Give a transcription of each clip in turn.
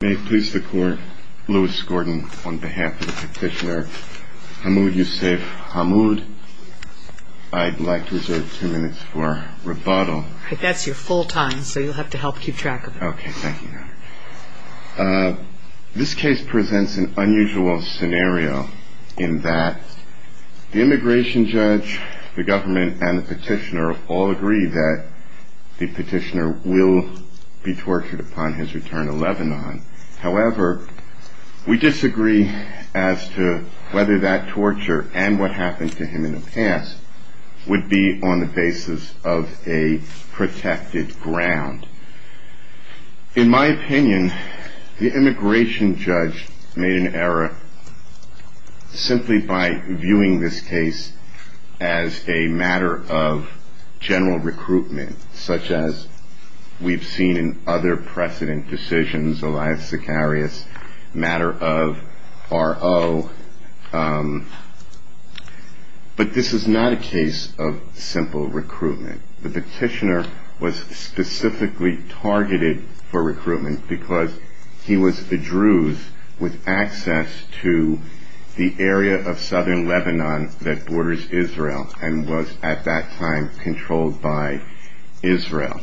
May it please the court, Lewis Gordon on behalf of the petitioner Hamood Youssef Hamood, I'd like to reserve two minutes for rebuttal. That's your full time, so you'll have to help keep track of it. Okay, thank you. This case presents an unusual scenario in that the immigration judge, the government and the petitioner all agree that the petitioner will be tortured upon his return to Lebanon. However, we disagree as to whether that torture and what happened to him in the past would be on the basis of a protected ground. In my opinion, the immigration judge made an error simply by viewing this case as a matter of general recruitment, such as we've seen in other precedent decisions, Elias Sicarius, matter of R.O. But this is not a case of simple recruitment. The petitioner was specifically targeted for recruitment because he was a Druze with access to the area of southern Lebanon that borders Israel and was at that time controlled by Israel.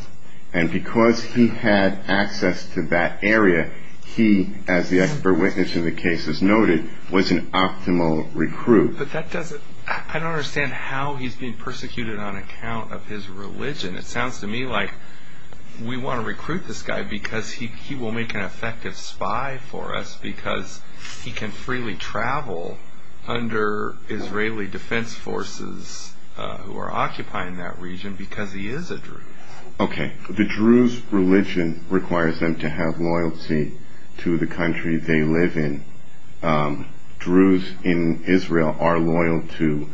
And because he had access to that area, he, as the expert witness in the case has noted, was an optimal recruit. But that doesn't, I don't understand how he's being persecuted on account of his religion. It sounds to me like we want to recruit this guy because he will make an effective spy for us because he can freely travel under Israeli defense forces who are occupying that region because he is a Druze. Okay, the Druze religion requires them to have loyalty to the country they live in. Druze in Israel are loyal to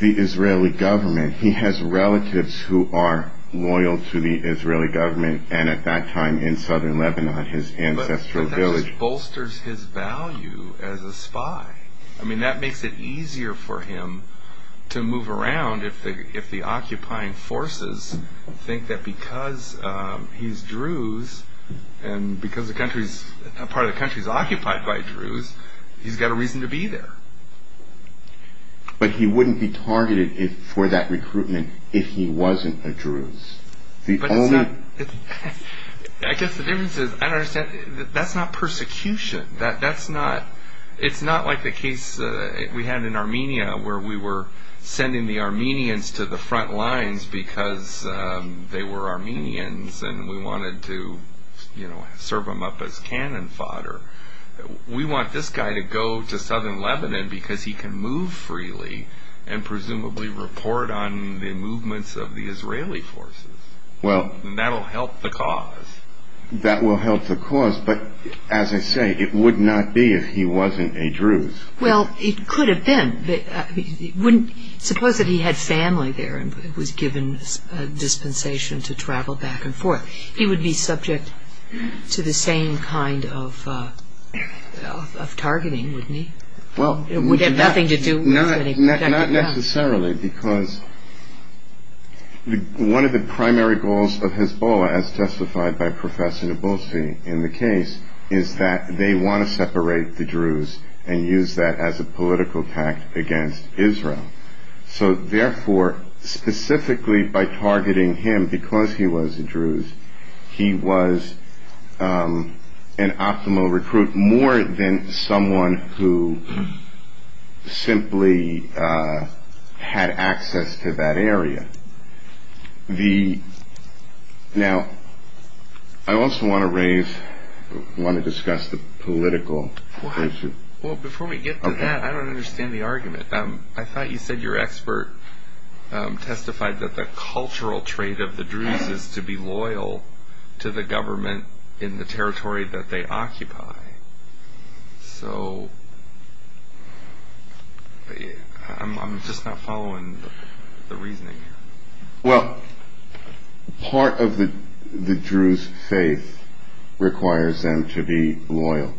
the Israeli government. He has relatives who are loyal to the Israeli government and at that time in southern Lebanon, his ancestral village. But that just bolsters his value as a spy. I mean, that makes it easier for him to move around if the occupying forces think that because he's Druze and because a part of the country is occupied by Druze, he's got a reason to be there. But he wouldn't be targeted for that recruitment if he wasn't a Druze. But it's not, I guess the difference is, I don't understand, that's not persecution. That's not, it's not like the case we had in Armenia where we were sending the Armenians to the front lines because they were Armenians and we wanted to serve them up as cannon fodder. We want this guy to go to southern Lebanon because he can move freely and presumably report on the movements of the Israeli forces. And that will help the cause. That will help the cause, but as I say, it would not be if he wasn't a Druze. Well, it could have been. Suppose that he had family there and was given a dispensation to travel back and forth. He would be subject to the same kind of targeting, wouldn't he? Well, not necessarily because one of the primary goals of Hezbollah, as testified by Professor Nabulsi in the case, is that they want to separate the Druze and use that as a political attack against Israel. So, therefore, specifically by targeting him because he was a Druze, he was an optimal recruit more than someone who simply had access to that area. Now, I also want to raise, want to discuss the political issue. Well, before we get to that, I don't understand the argument. I thought you said your expert testified that the cultural trait of the Druze is to be loyal to the government in the territory that they occupy. So I'm just not following the reasoning. Well, part of the Druze faith requires them to be loyal.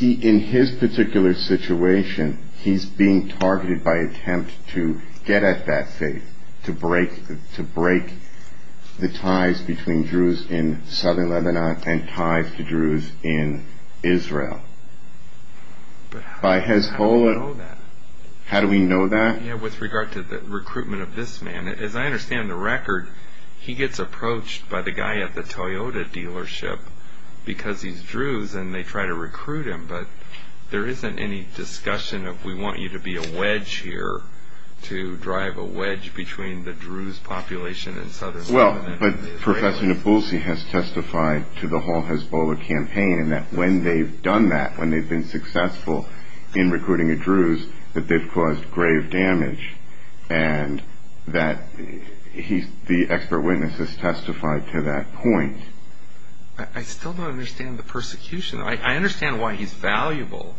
In his particular situation, he's being targeted by attempt to get at that faith, to break the ties between Druze in southern Lebanon and ties to Druze in Israel. But how do we know that? How do we know that? Yeah, with regard to the recruitment of this man. As I understand the record, he gets approached by the guy at the Toyota dealership because he's Druze, and they try to recruit him. But there isn't any discussion of we want you to be a wedge here, to drive a wedge between the Druze population in southern Lebanon and the Israelis. Well, but Professor Nipulsi has testified to the whole Hezbollah campaign, and that when they've done that, when they've been successful in recruiting a Druze, that they've caused grave damage, and that the expert witness has testified to that point. I still don't understand the persecution. I understand why he's valuable.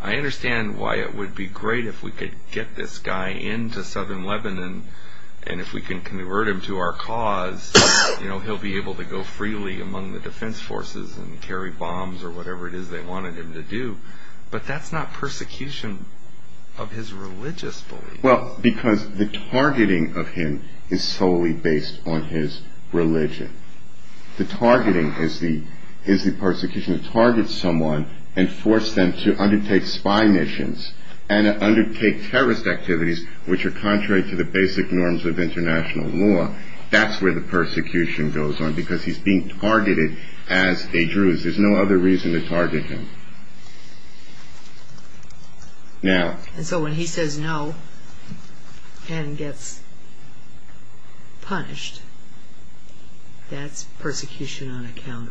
I understand why it would be great if we could get this guy into southern Lebanon, and if we can convert him to our cause, he'll be able to go freely among the defense forces and carry bombs or whatever it is they wanted him to do. But that's not persecution of his religious belief. Well, because the targeting of him is solely based on his religion. The targeting is the persecution to target someone and force them to undertake spy missions and undertake terrorist activities, which are contrary to the basic norms of international law. That's where the persecution goes on, because he's being targeted as a Druze. There's no other reason to target him. And so when he says no and gets punished, that's persecution on account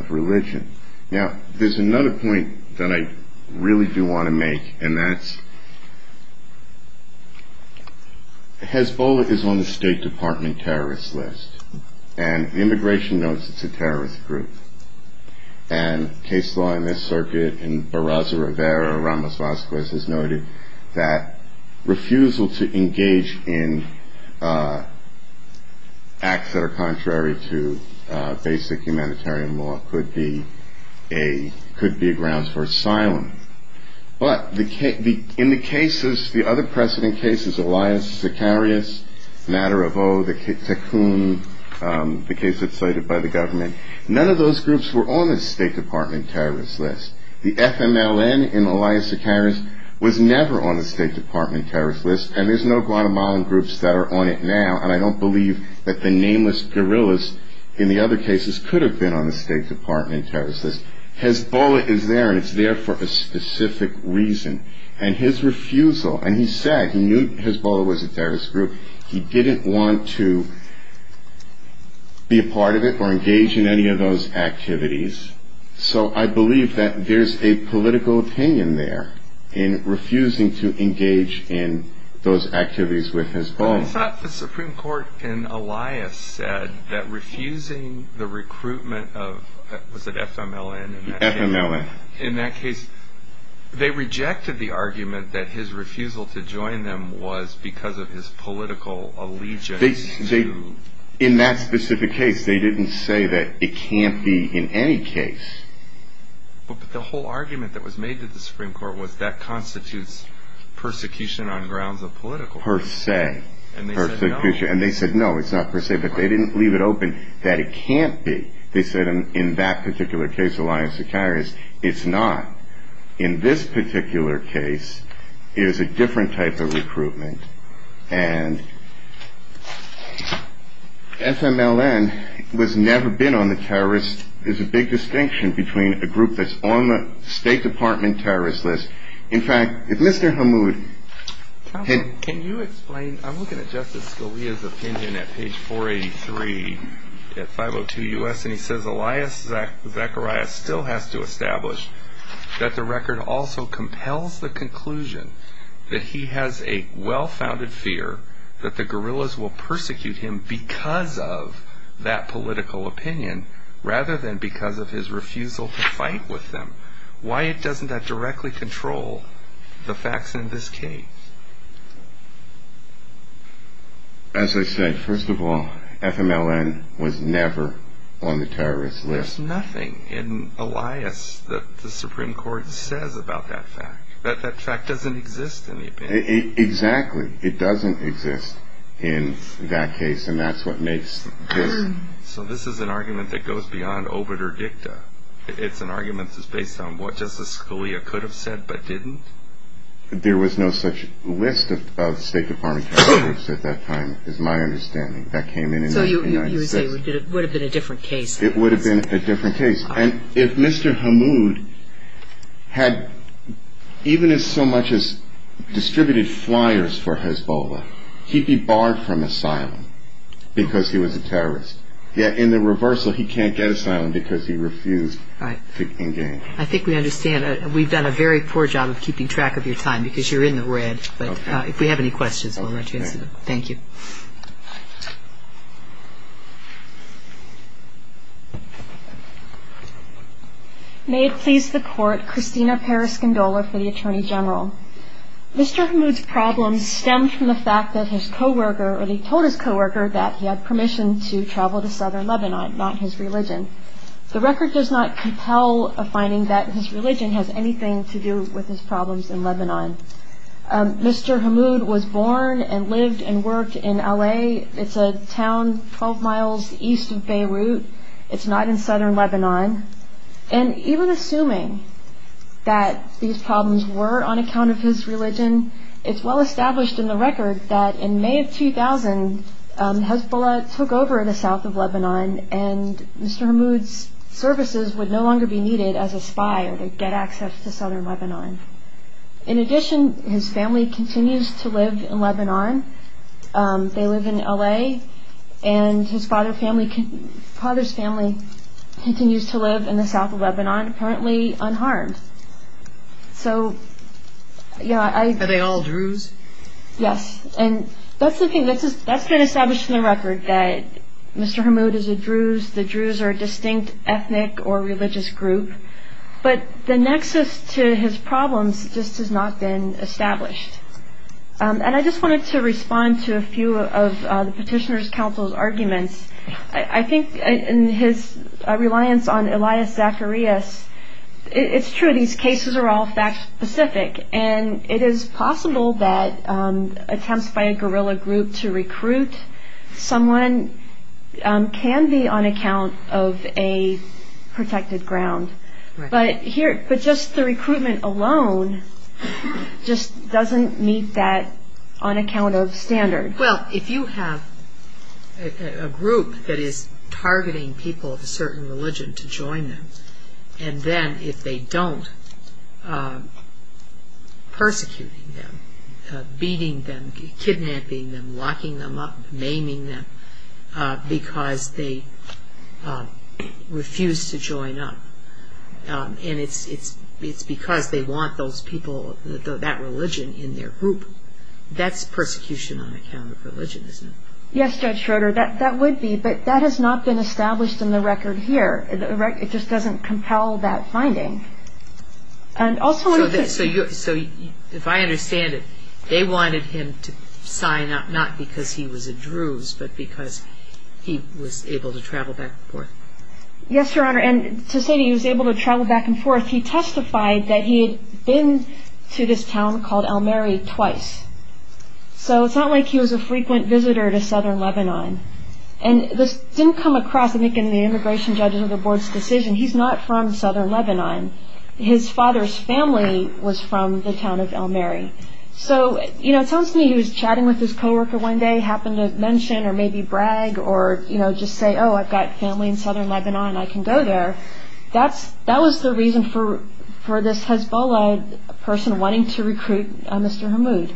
of religion. Now, there's another point that I really do want to make, and that's Hezbollah is on the State Department terrorist list, and Immigration notes it's a terrorist group. And case law in this circuit in Barraza Rivera, Ramos Vazquez, has noted that refusal to engage in acts that are contrary to basic humanitarian law could be grounds for asylum. But in the cases, the other precedent cases, Elias Sicarius, Matter of O, the Tecum, the case that's cited by the government, none of those groups were on the State Department terrorist list. The FMLN in Elias Sicarius was never on the State Department terrorist list, and there's no Guatemalan groups that are on it now, and I don't believe that the nameless guerrillas in the other cases could have been on the State Department terrorist list. Hezbollah is there, and it's there for a specific reason. And his refusal, and he said he knew Hezbollah was a terrorist group, he didn't want to be a part of it or engage in any of those activities. So I believe that there's a political opinion there in refusing to engage in those activities with Hezbollah. It's not the Supreme Court in Elias said that refusing the recruitment of, was it FMLN? FMLN. In that case, they rejected the argument that his refusal to join them was because of his political allegiance to... In that specific case, they didn't say that it can't be in any case. But the whole argument that was made to the Supreme Court was that constitutes persecution on grounds of political... Per se. And they said no. And they said no, it's not per se, but they didn't leave it open that it can't be. They said in that particular case, Elias Zakaria's, it's not. In this particular case, it is a different type of recruitment. And FMLN was never been on the terrorist... There's a big distinction between a group that's on the State Department terrorist list. In fact, if Mr. Hammoud... Can you explain, I'm looking at Justice Scalia's opinion at page 483 at 502 U.S. And he says Elias Zakaria still has to establish that the record also compels the conclusion that he has a well-founded fear that the guerrillas will persecute him because of that political opinion rather than because of his refusal to fight with them. Why doesn't that directly control the facts in this case? As I said, first of all, FMLN was never on the terrorist list. There's nothing in Elias that the Supreme Court says about that fact. That fact doesn't exist in the opinion. Exactly. It doesn't exist in that case. And that's what makes this... So this is an argument that goes beyond obiter dicta. It's an argument that's based on what Justice Scalia could have said but didn't. There was no such list of State Department terrorists at that time, is my understanding. That came in in 1960. So you would say it would have been a different case. It would have been a different case. And if Mr. Hammoud had, even as so much as distributed flyers for Hezbollah, he'd be barred from asylum because he was a terrorist. Yet in the reversal, he can't get asylum because he refused to engage. I think we understand. We've done a very poor job of keeping track of your time because you're in the red. But if we have any questions, we'll let you answer them. Thank you. May it please the Court, Christina Peres-Gondola for the Attorney General. Mr. Hammoud's problems stemmed from the fact that his co-worker, or he told his co-worker, that he had permission to travel to southern Lebanon, not his religion. The record does not compel a finding that his religion has anything to do with his problems in Lebanon. Mr. Hammoud was born and lived and worked in L.A. It's a town 12 miles east of Beirut. It's not in southern Lebanon. And even assuming that these problems were on account of his religion, it's well established in the record that in May of 2000, Hezbollah took over the south of Lebanon and Mr. Hammoud's services would no longer be needed as a spy or to get access to southern Lebanon. In addition, his family continues to live in Lebanon. They live in L.A. And his father's family continues to live in the south of Lebanon, apparently unharmed. Are they all Druze? Yes. And that's the thing. That's been established in the record that Mr. Hammoud is a Druze. The Druze are a distinct ethnic or religious group. But the nexus to his problems just has not been established. And I just wanted to respond to a few of the petitioner's counsel's arguments. I think in his reliance on Elias Zacharias, it's true, these cases are all fact specific. And it is possible that attempts by a guerrilla group to recruit someone can be on account of a protected ground. But just the recruitment alone just doesn't meet that on account of standard. Well, if you have a group that is targeting people of a certain religion to join them, and then if they don't, persecuting them, beating them, kidnapping them, locking them up, maiming them, because they refuse to join up, and it's because they want that religion in their group, that's persecution on account of religion, isn't it? Yes, Judge Schroeder, that would be. But that has not been established in the record here. It just doesn't compel that finding. So if I understand it, they wanted him to sign up not because he was a Druze, but because he was able to travel back and forth. Yes, Your Honor, and to say that he was able to travel back and forth, he testified that he had been to this town called Elmeri twice. So it's not like he was a frequent visitor to southern Lebanon. And this didn't come across, I think, in the Immigration Judges of the Board's decision. He's not from southern Lebanon. His father's family was from the town of Elmeri. So, you know, it sounds to me he was chatting with his co-worker one day, happened to mention or maybe brag or, you know, just say, oh, I've got family in southern Lebanon, I can go there. That was the reason for this Hezbollah person wanting to recruit Mr. Hammoud.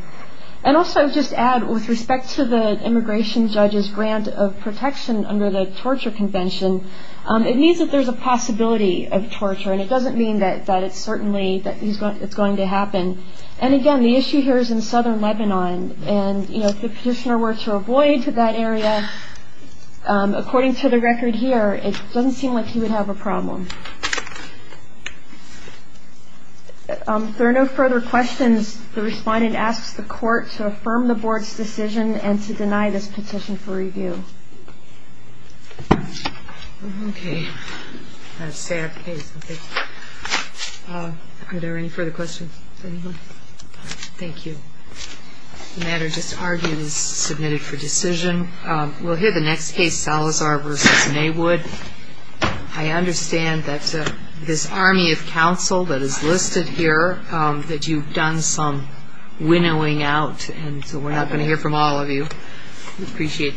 And also, I would just add, with respect to the immigration judge's grant of protection under the torture convention, it means that there's a possibility of torture. And it doesn't mean that it's certainly that it's going to happen. And, again, the issue here is in southern Lebanon. And, you know, if the petitioner were to avoid that area, according to the record here, it doesn't seem like he would have a problem. If there are no further questions, the respondent asks the Court to affirm the Board's decision and to deny this petition for review. Okay. That's a sad case. Are there any further questions? Thank you. The matter just argued is submitted for decision. We'll hear the next case, Salazar v. Maywood. I understand that this army of counsel that is listed here, that you've done some winnowing out, and so we're not going to hear from all of you. We appreciate that.